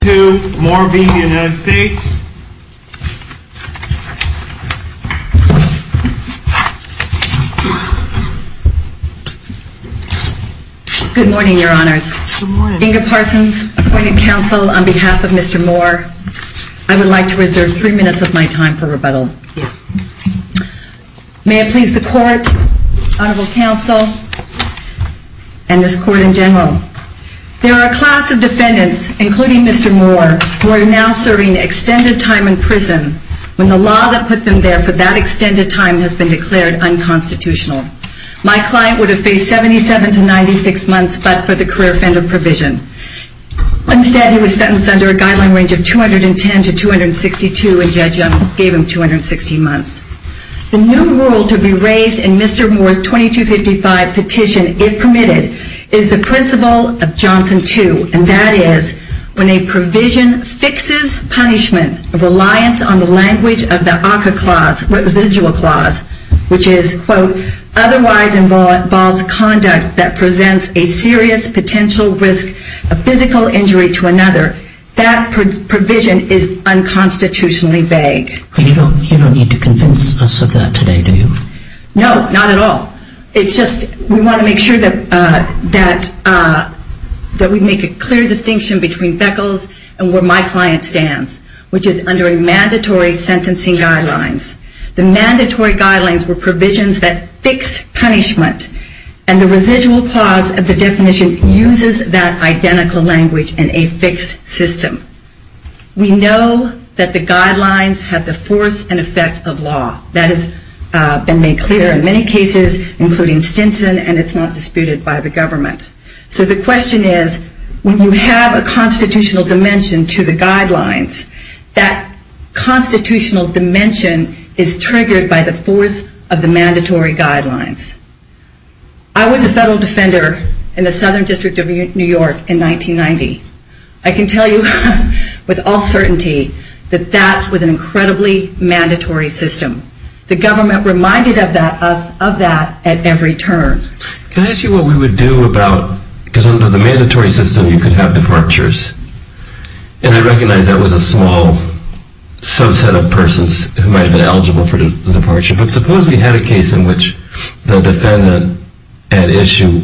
Good morning, your honors. Inga Parsons, appointed counsel on behalf of Mr. Moore, I would like to reserve three minutes of my time for rebuttal. May it please the court, honorable counsel, and this court in general. There are a class of defendants, including Mr. Moore, who are now serving extended time in prison, when the law that put them there for that extended time has been declared unconstitutional. My client would have faced 77 to 96 months but for the career offender provision. Instead, he was sentenced under a guideline range of permitted is the principle of Johnson 2, and that is, when a provision fixes punishment, a reliance on the language of the ACCA clause, residual clause, which is, quote, otherwise involves conduct that presents a serious potential risk of physical injury to another, that provision is unconstitutionally vague. You don't need to convince us of that today, do you? No, not at all. It's just we want to make sure that we make a clear distinction between Beckles and where my client stands, which is under a mandatory sentencing guidelines. The mandatory guidelines were provisions that fixed punishment, and the residual clause of the definition uses that identical language in a fixed system. We know that the guidelines have the force and effect of law. That has been made clear in many cases, including Stinson, and it's not disputed by the government. So the question is, when you have a constitutional dimension to the guidelines, that constitutional dimension is triggered by the force of the mandatory guidelines. I was a federal defender in the Southern District of New York in 1990. I can tell you with all credibility, it was an incredibly mandatory system. The government reminded us of that at every turn. Can I ask you what we would do about, because under the mandatory system you could have departures, and I recognize that was a small subset of persons who might have been eligible for the departure, but suppose we had a case in which the defendant at issue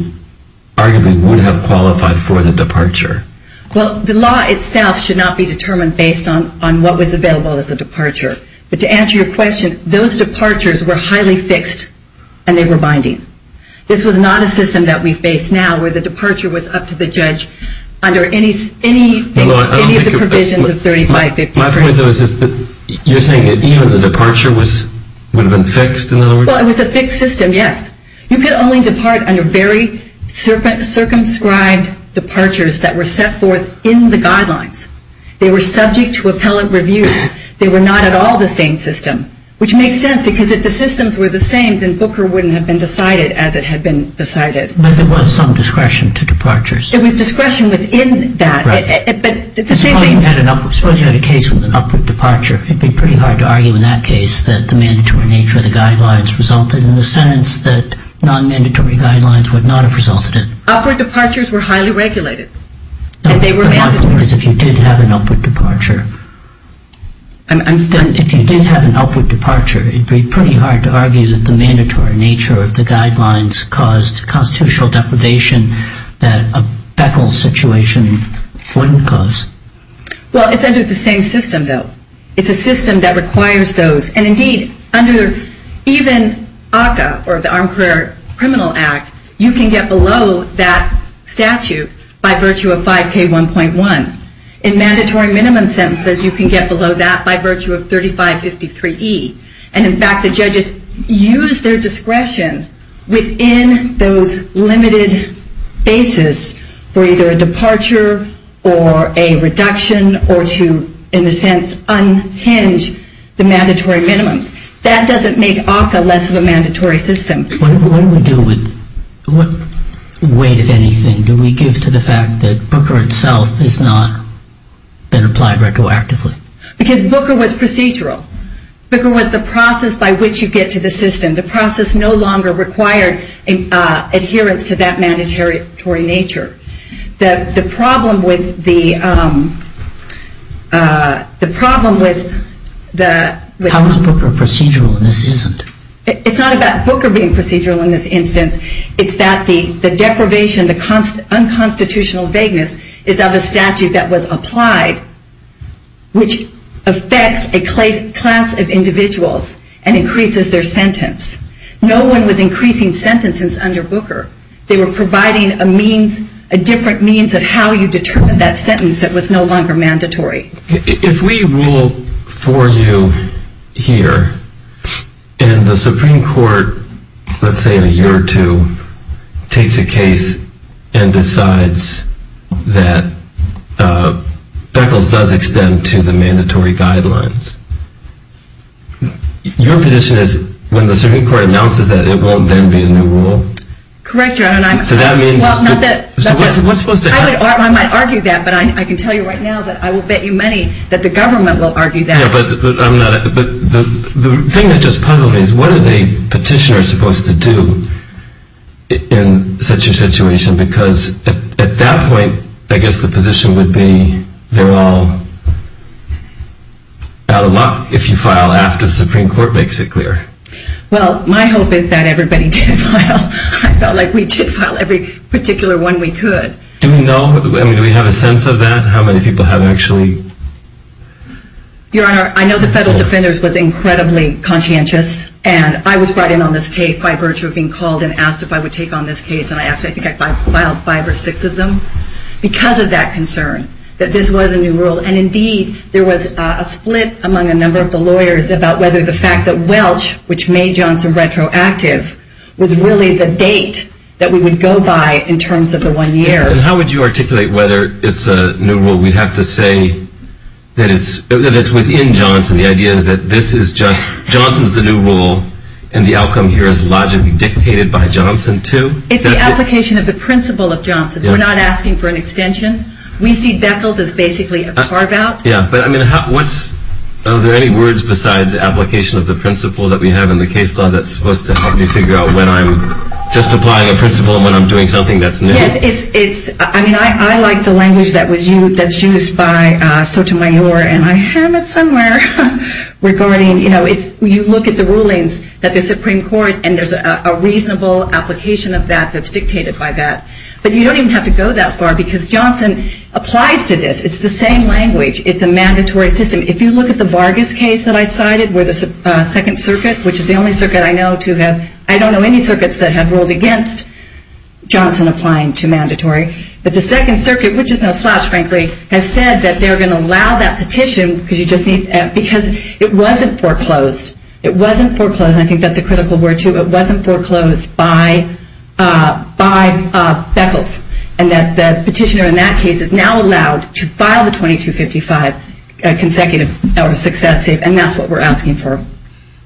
arguably would have qualified for the departure. Well, the law itself should not be determined based on what was available as a departure. But to answer your question, those departures were highly fixed, and they were binding. This was not a system that we face now, where the departure was up to the judge under any of the provisions of 3553. My point, though, is that you're saying that even the departure would have been fixed? Well, it was a fixed system, yes. You could only depart under very circumscribed departures that were set forth in the guidelines. They were subject to appellate review. They were not at all the same system, which makes sense, because if the systems were the same, then Booker wouldn't have been decided as it had been decided. But there was some discretion to departures. There was discretion within that. Right. But the same thing Suppose you had a case with an upward departure. It would be pretty hard to argue in that case that the mandatory nature of the guidelines resulted in the sentence that non-mandatory guidelines would not have resulted in. Upward departures were highly regulated. My point is, if you did have an upward departure, if you did have an upward departure, it would be pretty hard to argue that the mandatory nature of the guidelines caused constitutional deprivation that a Beckel situation wouldn't cause. Well, it's under the same system, though. It's a system that requires those. And, indeed, under even ACCA, or the Armed Career Criminal Act, you can get below that statute by virtue of 5K1.1. In mandatory minimum sentences, you can get below that by virtue of 3553E. And, in fact, the judges use their discretion within those limited bases for either a departure or a reduction or to, in a sense, unhinge the mandatory minimums. That doesn't make ACCA less of a mandatory system. What do we do with, what weight, if anything, do we give to the fact that Booker itself has not been applied retroactively? Because Booker was procedural. Booker was the process by which you get to the system. The process no longer required adherence to that mandatory nature. The problem with the How is Booker procedural and this isn't? It's not about Booker being procedural in this instance. It's that the deprivation, the unconstitutional vagueness is of a statute that was applied, which affects a class of judges. No one was increasing sentences under Booker. They were providing a means, a different means of how you determine that sentence that was no longer mandatory. If we rule for you here and the Supreme Court, let's say in a year or two, takes a case and decides that Beckles does extend to the mandatory guidelines, your position is when the Supreme Court announces that, it won't then be a new rule? Correct, Your Honor. So that means... Well, not that... So what's supposed to happen? I might argue that, but I can tell you right now that I will bet you money that the government will argue that. Yeah, but I'm not... The thing that just puzzles me is what is a petitioner supposed to do in such a situation? Because at that point, I guess the position would be they're all out of luck if you file after the Supreme Court makes it clear. Well, my hope is that everybody did file. I felt like we did file every particular one we could. Do we know? I mean, do we have a sense of that? How many people have actually... Your Honor, I know the federal defenders was incredibly conscientious, and I was brought in on this case by virtue of being called and asked if I would take on this case, and I actually think I filed five or six of them because of that concern, that this was a new rule. And indeed, there was a split among a number of the lawyers about whether the new rule, which made Johnson retroactive, was really the date that we would go by in terms of the one year. And how would you articulate whether it's a new rule? We'd have to say that it's within Johnson. The idea is that this is just... Johnson's the new rule, and the outcome here is logically dictated by Johnson, too? It's the application of the principle of Johnson. We're not asking for an extension. We see Beckles as basically a carve-out. Yeah, but I mean, what's... Are there any words besides application of the principle that we have in the case law that's supposed to help me figure out when I'm just applying a principle and when I'm doing something that's new? Yes, it's... I mean, I like the language that was used... that's used by Sotomayor, and I have it somewhere regarding... You know, it's... You look at the rulings that the Supreme Court, and there's a reasonable application of that that's dictated by that. But you don't even have to go that far, because Johnson applies to this. It's the same language. It's a mandatory system. If you look at the Vargas case that I cited, where the Second Circuit, which is the only circuit I know to have... I don't know any circuits that have ruled against Johnson applying to mandatory. But the Second Circuit, which is no slouch, frankly, has said that they're going to allow that petition, because you just need... Because it wasn't foreclosed. It wasn't foreclosed, and I think that's a critical word, too. It wasn't foreclosed by... by Beckles, and that the petitioner in that case is now allowed to file the 2255 consecutive or successive, and that's what we're asking for.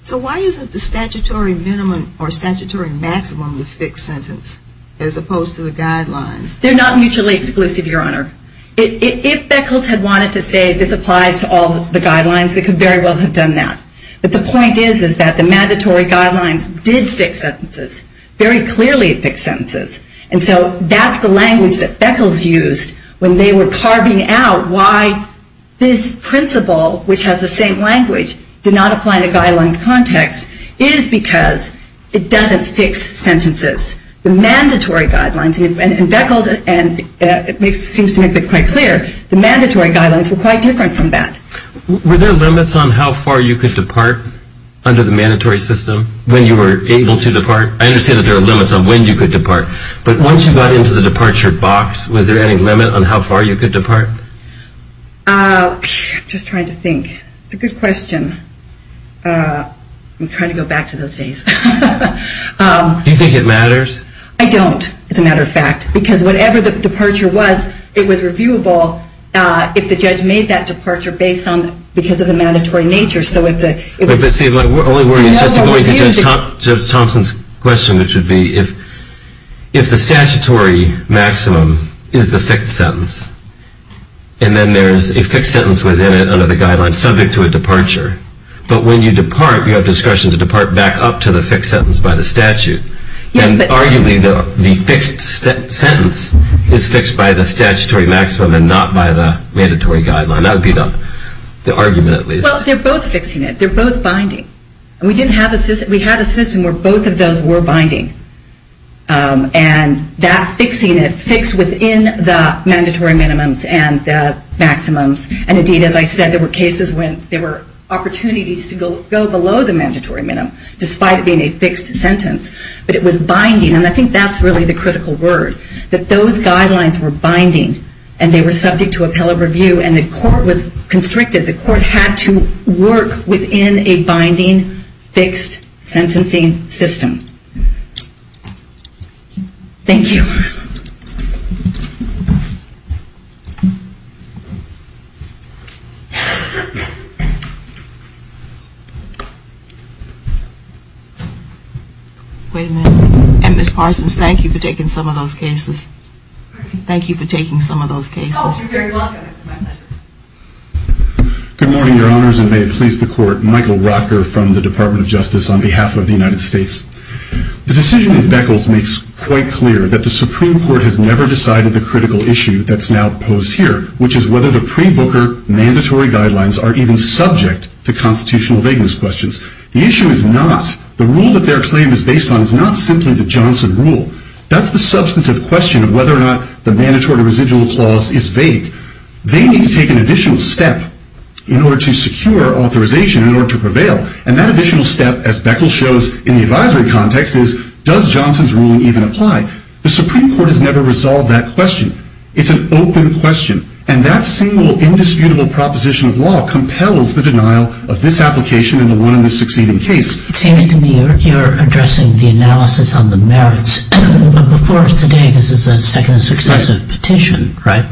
So why isn't the statutory minimum or statutory maximum the fixed sentence, as opposed to the guidelines? They're not mutually exclusive, Your Honor. If Beckles had wanted to say this applies to all the guidelines, they could very well have done that. But the point is, is that the mandatory guidelines did fix sentences. Very clearly it fixed sentences. And so that's the language that Beckles used when they were carving out why this principle, which has the same language, did not apply in a guidelines context, is because it doesn't fix sentences. The mandatory guidelines... And Beckles seems to make that quite clear. The mandatory guidelines were quite different from that. Were there limits on how far you could depart under the mandatory system when you were able to depart? I understand that there are limits on when you could depart, but once you got into the departure box, was there any limit on how far you could depart? I'm just trying to think. It's a good question. I'm trying to go back to those days. Do you think it matters? I don't, as a matter of fact, because whatever the departure was, it was reviewable if the statutory maximum is the fixed sentence and then there's a fixed sentence within it under the guidelines subject to a departure. But when you depart, you have discretion to depart back up to the fixed sentence by the statute. And arguably, the fixed sentence is fixed by the statutory maximum and not by the mandatory guideline. That would be the argument at least. Well, they're both fixing it. They're both binding. We had a system where both of those were binding. And that fixing it, fixed within the mandatory minimums and the maximums. And indeed, as I said, there were cases when there were opportunities to go below the mandatory minimum, despite it being a fixed sentence. But it was binding, and I think that's really the critical word, that those guidelines were binding and they were subject to appellate review and the court was constricted. The court had to work within a binding, fixed sentencing system. Thank you. Wait a minute. And Ms. Parsons, thank you for doing that. Thank you for taking some of those cases. Thank you for taking some of those cases. Good morning, Your Honors, and may it please the Court. Michael Rocker from the Department of Justice on behalf of the United States. The decision that Beckles makes quite clear that the Supreme Court has never decided the critical issue that's now posed here, which is whether the pre-Booker mandatory guidelines are even subject to constitutional vagueness questions. The issue is not. The rule that their claim is based on is not simply the substantive question of whether or not the mandatory residual clause is vague. They need to take an additional step in order to secure authorization in order to prevail. And that additional step, as Beckles shows in the advisory context, is does Johnson's ruling even apply? The Supreme Court has never resolved that question. It's an open question. And that single indisputable proposition of law compels the denial of this application and the one in the succeeding case. It seems to me you're addressing the analysis on the merits. But before us today, this is a second successive petition, right?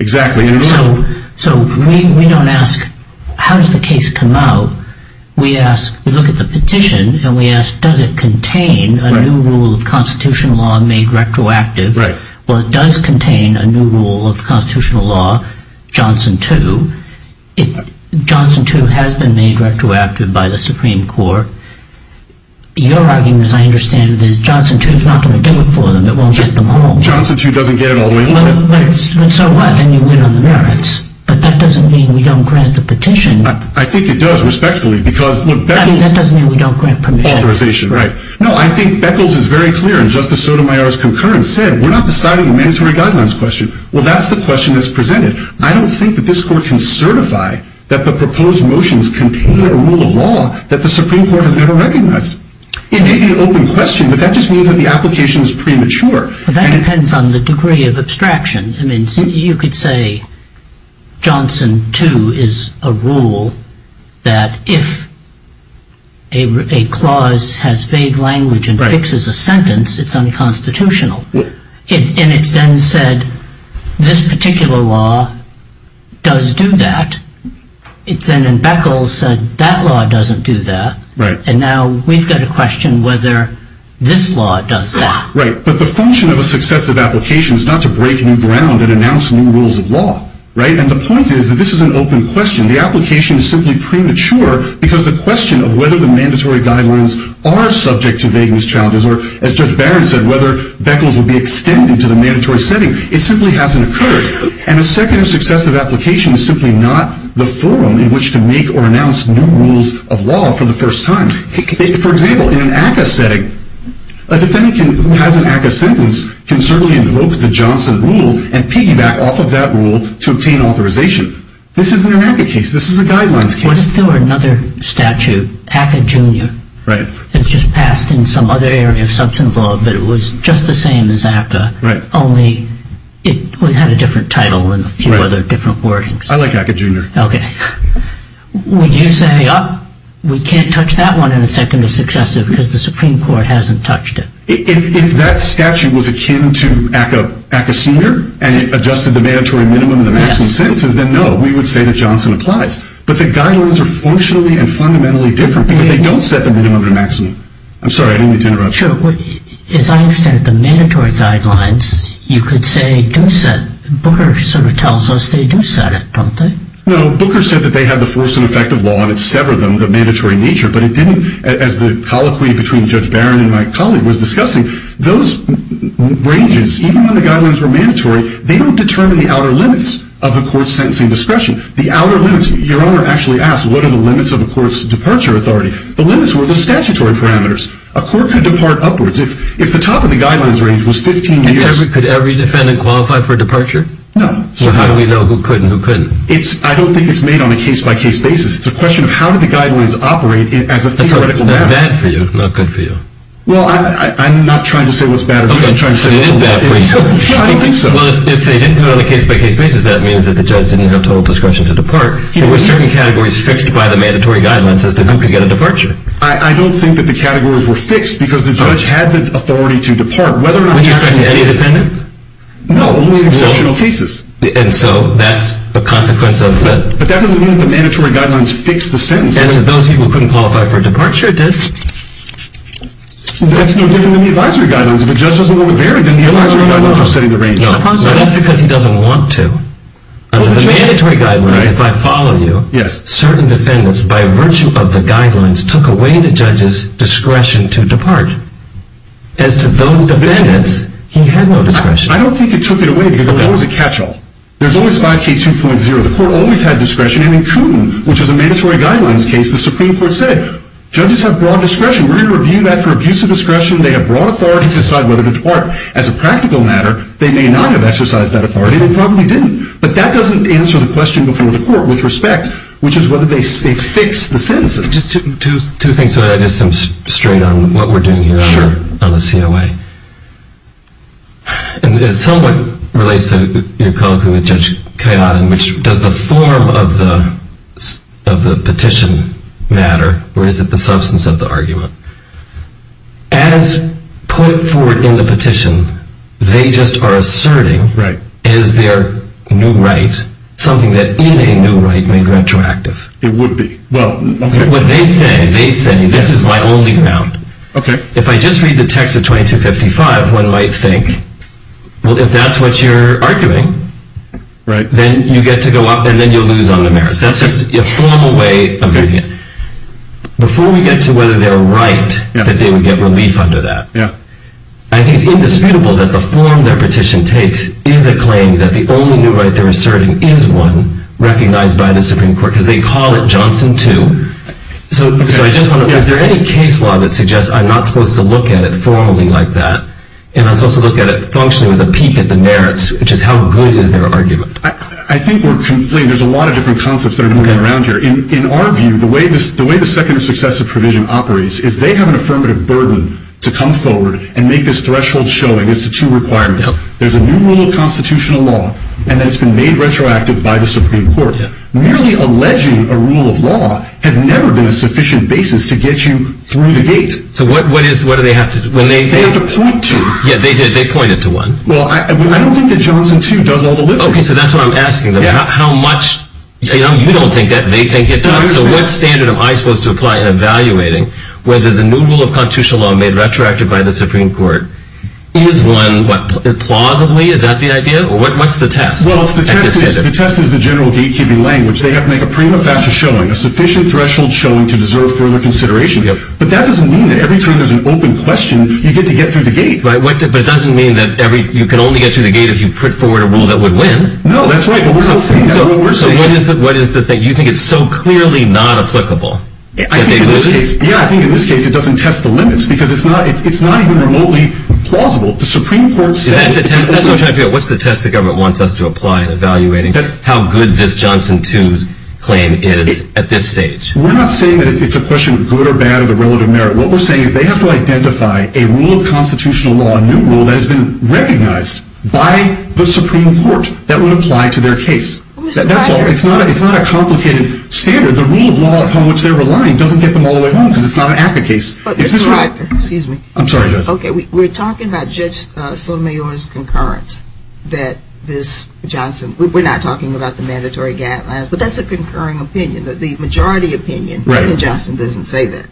Exactly. So we don't ask, how does the case come out? We ask, we look at the petition, and we ask, does it contain a new rule of constitutional law made retroactive? Well, it does contain a new rule of constitutional law, Johnson 2. Johnson 2 has been made retroactive by the Supreme Court. Your argument, as I understand it, is Johnson 2 is not going to do it for them. It won't get them home. Johnson 2 doesn't get it all the way home. But so what? Then you win on the merits. But that doesn't mean we don't grant the petition. I think it does, respectfully, because, look, Beckles... I mean, that doesn't mean we don't grant permission. Authorization, right. No, I think Beckles is very clear, and Justice Sotomayor's concurrence said we're not deciding a mandatory guidelines question. Well, that's the question that's presented. I don't think that this Court can certify that the proposed motions contain a rule of law that the Supreme Court has never recognized. It may be an open question, but that just means that the application is premature. Well, that depends on the degree of abstraction. I mean, you could say Johnson 2 is a rule that if a clause has vague language and fixes a sentence, it's unconstitutional. And it's then said, this particular law does do that. It's then, and Beckles said, that law doesn't do that. Right. And now we've got a question whether this law does that. Right. But the function of a successive application is not to break new ground and announce new rules of law, right? And the point is that this is an open question. The application is simply premature because the question of whether the mandatory guidelines are subject to vagueness challenges or, as Judge Barron said, whether Beckles would be extended to the mandatory setting, it simply hasn't occurred. And a second successive application is simply not the forum in which to make or announce new rules of law for the first time. For example, in an ACCA setting, a defendant who has an ACCA sentence can certainly invoke the Johnson rule and piggyback off of that rule to obtain authorization. This isn't an ACCA case. This is a guidelines case. What if there were another statute, ACCA Jr., that's just passed in some other area of substance law, but it was just the same as ACCA, only it had a different title and a few other different wordings? I like ACCA Jr. OK. Would you say, oh, we can't touch that one in a second or successive because the Supreme Court hasn't touched it? If that statute was akin to ACCA Sr. and it adjusted the mandatory minimum and the guidelines are functionally and fundamentally different because they don't set the minimum or maximum. I'm sorry. I didn't mean to interrupt. Sure. As I understand it, the mandatory guidelines, you could say, do set. Booker sort of tells us they do set it, don't they? No. Booker said that they have the force and effect of law and it severed them, the mandatory nature. But it didn't, as the colloquy between Judge Barron and my colleague was discussing, those ranges, even when the guidelines were mandatory, they don't determine the outer limits. Your Honor actually asked, what are the limits of a court's departure authority? The limits were the statutory parameters. A court could depart upwards if the top of the guidelines range was 15 years. Could every defendant qualify for a departure? No. So how do we know who could and who couldn't? I don't think it's made on a case-by-case basis. It's a question of how do the guidelines operate as a theoretical matter. That's bad for you, not good for you. Well, I'm not trying to say what's bad or good. I'm trying to say what's good. OK. So it isn't bad for you. No, I don't think so. Well, if they didn't do it on a case-by-case basis, that means that the judge didn't have total discretion to depart. And there were certain categories fixed by the mandatory guidelines as to who could get a departure. I don't think that the categories were fixed because the judge had the authority to depart. Would you expect any defendant? No. And so that's a consequence of the… But that doesn't mean that the mandatory guidelines fixed the sentence. And those people who couldn't qualify for a departure did. Well, that's no different than the advisory guidelines. If a judge doesn't know what varied, then the advisory guidelines are setting the range. No, no, no. That's because he doesn't want to. The mandatory guidelines, if I follow But the judge could. No, no, no. But the judge could. No, no, no. But the judge could. If I follow you, certain defendants, by virtue of the guidelines, took away the judge's discretion to depart. As to those defendants, he had no discretion. I don't think he took it away because there's always a catch-all. There's always 5K2.0. The court always had discretion. And in Coon, which is a mandatory guidelines case, the Supreme Court said, Judges have broad discretion. We're going to review that for abuse of discretion. They have broad authority to decide whether to depart. As a practical matter, they may not have exercised that authority. Judges have broad discretion. We're going to review that for abuse of discretion. They have broad authority to decide whether to depart. It would be. Well, What they say, they say, this is my only ground. Okay. If I just read the text of 2255, one might think, Well, if that's what you're arguing, Right. Then you get to go up, and then you'll lose on the merits. That's just a formal way of doing it. Before we get to whether they're right, Yeah. That they would get relief under that. Yeah. I think it's indisputable that the form their petition takes is a claim that the only new right they're asserting is one recognized by the Supreme Court. Yeah. Because they call it Johnson 2. Okay. So I just want to, Yeah. Is there any case law that suggests I'm not supposed to look at it formally like that? And I'm supposed to look at it functionally with a peek at the merits, which is how good is their argument? I think we're completely, There's a lot of different concepts that are moving around here. Okay. In our view, the way the second successive provision operates is they have an affirmative burden to come forward and make this threshold showing as to two requirements. Yep. There's a new rule of constitutional law, and then it's been made retroactive by the Supreme Court. Yeah. And so merely alleging a rule of law has never been a sufficient basis to get you through the gate. So what do they have to do? They have to point to. Yeah. They pointed to one. Well, I don't think that Johnson 2 does all the lifting. Okay. So that's what I'm asking them. Yeah. How much? You don't think that they think it does? No, I understand. So what standard am I supposed to apply in evaluating whether the new rule of constitutional law made retroactive by the Supreme Court Well, the test is the general gatekeeping language, which is, Okay. I'm not supposed to look at it formally like that. Yeah. But that doesn't mean that every time there's an open question, you get to get through the gate. Right. But it doesn't mean that you can only get through the gate if you put forward a rule that would win. No, that's right. So what is the thing? You think it's so clearly not applicable? Yeah, I think in this case, it doesn't test the limits because it's not even remotely plausible. The Supreme Court said... Is that the test? That's what I'm trying to figure out. Is that the test? Is that the test? Is that the test? Is that the test? Is that the test? Is that the test? Is that the test? We're not saying that it's a question of good or bad of the relative merit. What we're saying is they have to identify a rule of constitutional law, a new rule that has been recognized by the Supreme Court that would apply to their case. That's all. It's not a complicated standard. The rule of law upon which they're relying doesn't get them all the way home because it's not an ACCA case. Excuse me. I'm sorry, Judge. Okay. but that's not what we're talking about. Okay. Okay. Okay. Okay. Okay. Okay. Okay. Okay. Okay. That's a concurring opinion, that the majority opinion Right. that the majority opinion I mean, Justin doesn't say that.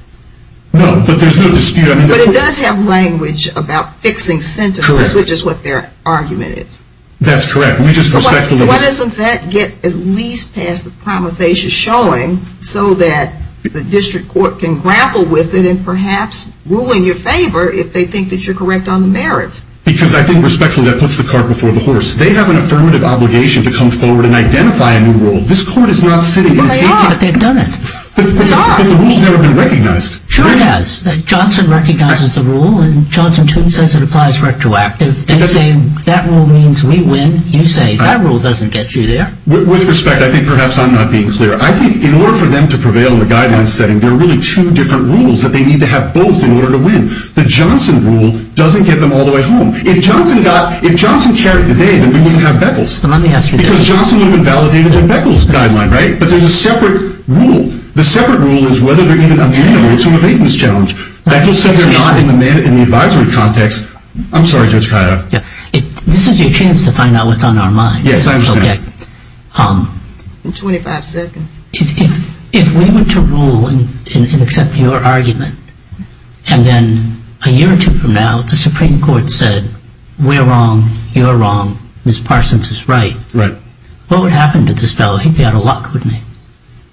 that the majority opinion I mean, Justin doesn't say that. No, but there's no dispute. I mean, there's no dispute. about fixing sentences Correct. about fixing sentences Correct. which is what their argument is. which is what their argument is. That's correct. We just respect... So why doesn't that get at least past the Prometheus Showing so that the District Court can grapple with it and perhaps rule in your favor if they think that Because I think respectfully that puts the cart before the horse. They have an affirmative obligation to come forward and identify a new rule. This Court is not sitting and speaking... But they are. But they've done it. But the rules have never been recognized. Sure it has. Johnson recognizes the rule and Johnson too says it applies retroactively. They say, that rule means we win. You say, that rule doesn't get you there. With respect, I think perhaps I'm not being clear. I think in order for them to prevail in the guidelines setting there are really two different rules that they need to have both in order to win. The Johnson rule doesn't get them all the way home. If Johnson got If Johnson carried the day then we wouldn't have Beckles. Let me ask you this. Because Johnson would have been validated in Beckles' guideline, right? But there's a separate rule. The separate rule is whether they're even amenable to the Baton's challenge. Beckles says they're not in the advisory context. I'm sorry, Judge Kaya. This is your chance what's on our minds. Yes, I understand. Okay. In 25 seconds. If we were to rule and accept your argument and then if we were to rule and accept your argument and then a year or two from now the Supreme Court said we're wrong you're wrong Ms. Parsons is right Right. What would happen to this fellow? He'd be out of luck, wouldn't he?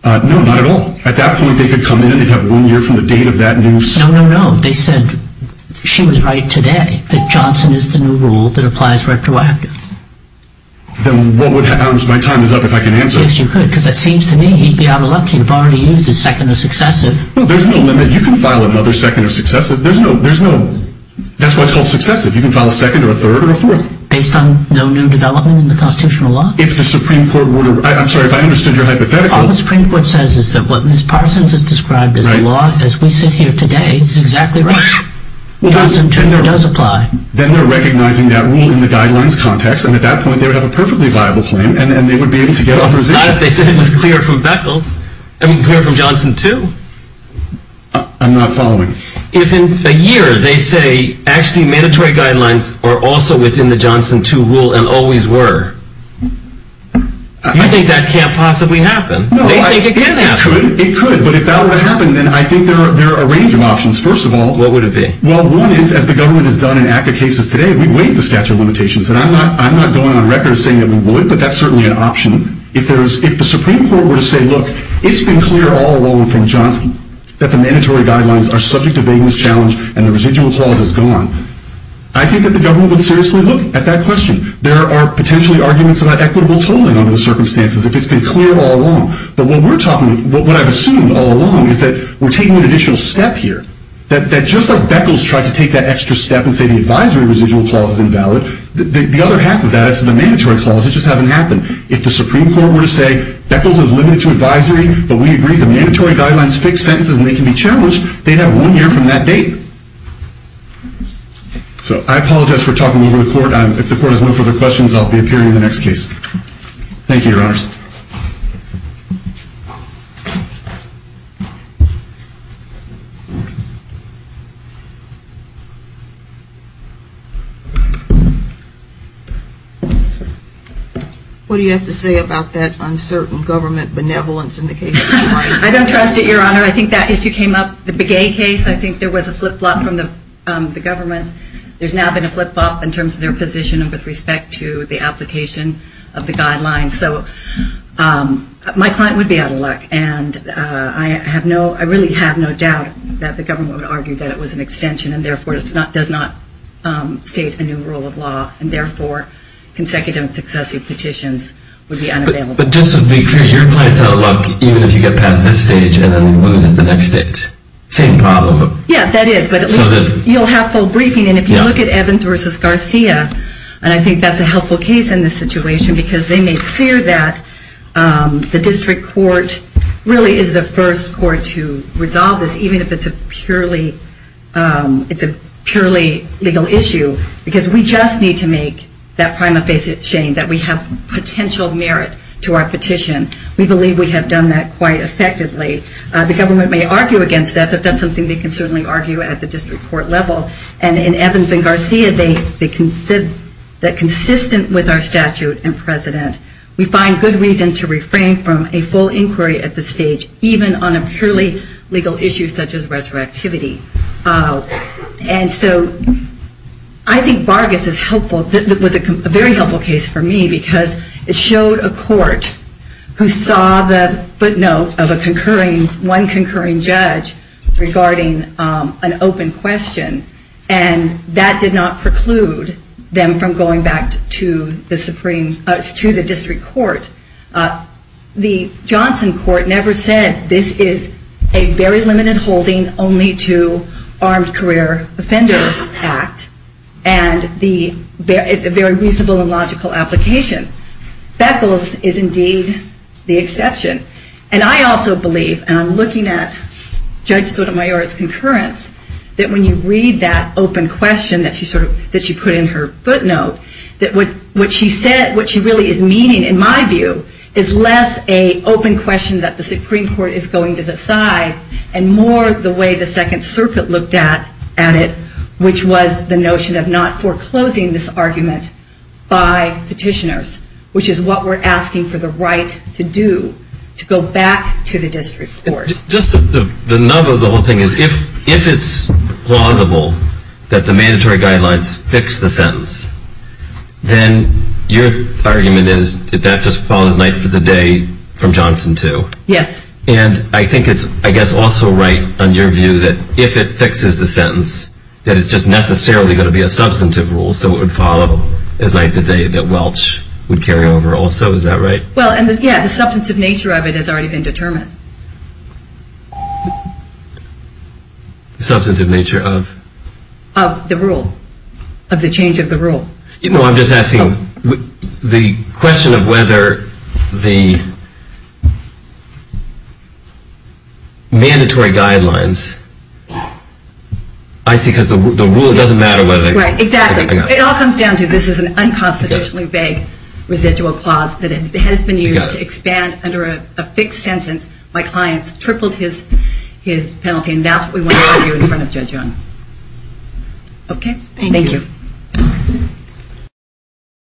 No, not at all. At that point they could come in and they'd have one year from the date of that new No, no, no. They said she was right today that Johnson is the new rule that applies retroactively. Then what would happen if my time is up if I can answer? Yes, you could because it seems to me he'd be out of luck. He'd have already used his second or successive. No, there's no limit. You can file another second or successive. There's no that's why it's called successive. You can file a second or a third or a fourth. Based on no new development in the constitutional law? If the Supreme Court were to I'm sorry if I understood your hypothetical All the Supreme Court says is that what Ms. Parsons has described as the law as we sit here today is exactly right. Johnson 2 does apply. Then they're recognizing that rule in the guidelines context and at that point they would have a perfectly viable claim and they would be able to get authorization. Not if they said it was clear from Beckles and clear from Johnson 2. I'm not following. If in a year they say actually mandatory guidelines are also within the Johnson 2 rule and always were you think that can't possibly happen? They think it can happen. It could. It could. But if that were to happen then I think there are a range of options. First of all What would it be? Well, one is as the government has done in ACCA cases today we've waived the statute of limitations and I'm not going on record saying that we would but that's certainly an option. If the Supreme Court were to say look, it's been clear all along from Johnson that the mandatory guidelines are subject to vagueness challenge and the residual clause is gone I think that the government would seriously look at that question. There are potentially arguments about equitable tolling under the circumstances if it's been clear all along. But what we're talking what I've assumed all along is that we're taking an additional step here. Just like Beckles tried to take that extra step and say the advisory residual clause is invalid the other half of that is the mandatory clause it just hasn't happened. If the Supreme Court were to say Beckles is limited to advisory but we agree the mandatory guidelines fix sentences and they can be challenged they'd have one year from that date. So I apologize for talking over the Court if the Court has no further questions I'll be appearing in the next case. Thank you Your Honors. What do you have to say about that uncertain government benevolence in the case of the client? I don't trust it Your Honor. I think that issue came up. The Begay case I think there was a flip-flop from the government. There's now been a flip-flop in terms of their position with respect to the application of the guidelines. So my client would be out of luck. And I really have no doubt that the government would argue that it was an extension and therefore does not state a new rule of law and therefore consecutive successive petitions would be unavailable. But just to be clear the district court really is the first court to resolve this even if it's a purely it's a purely legal issue because we just need to make that prima facie shame that we have potential merit to our petition. We believe we have done that quite effectively. The government may argue against that but that's something they can certainly argue at the district court level. And in Evans and Garcia they said that consistent with our statute and precedent we find good reason to refrain from a full inquiry at this stage even on a purely legal issue such as retroactivity. And so I think Vargas is helpful. It was a very helpful case for me because it showed a court who saw the footnote of a concurring judge regarding an open question and that did not preclude them from going back to the district court. The Johnson court never said this is a very limited holding only to armed career offender act and it's a very reasonable and logical application. Beckles is exception. And I also believe and I'm looking at Judge Sotomayor's concurrence that when you read that open question that she put in her footnote that what she really is meaning in my view is less an open question that the Supreme Court is going to decide and more the way the Second Circuit looked at it which was the notion of not foreclosing this argument by petitioners which is what we're asking for the right to do to go back to the district court. If it's plausible that the mandatory guidelines fix the sentence, then your argument is that just follows night for the day from Johnson too. And I think it's also right on your view that if it fixes the sentence that it's just necessarily going to be a substantive rule so it would follow as night for the day that Welch would carry over to the And I think that's also right. The substantive nature of it has already been determined. Substantive nature of? Of the rule. Of the change of the rule. I'm just asking the question of whether the mandatory guidelines I see because the one that I think is important is that it has been used to expand under a fixed sentence. My client tripled his penalty. And that's what we want to argue in front of Judge Young. Thank you.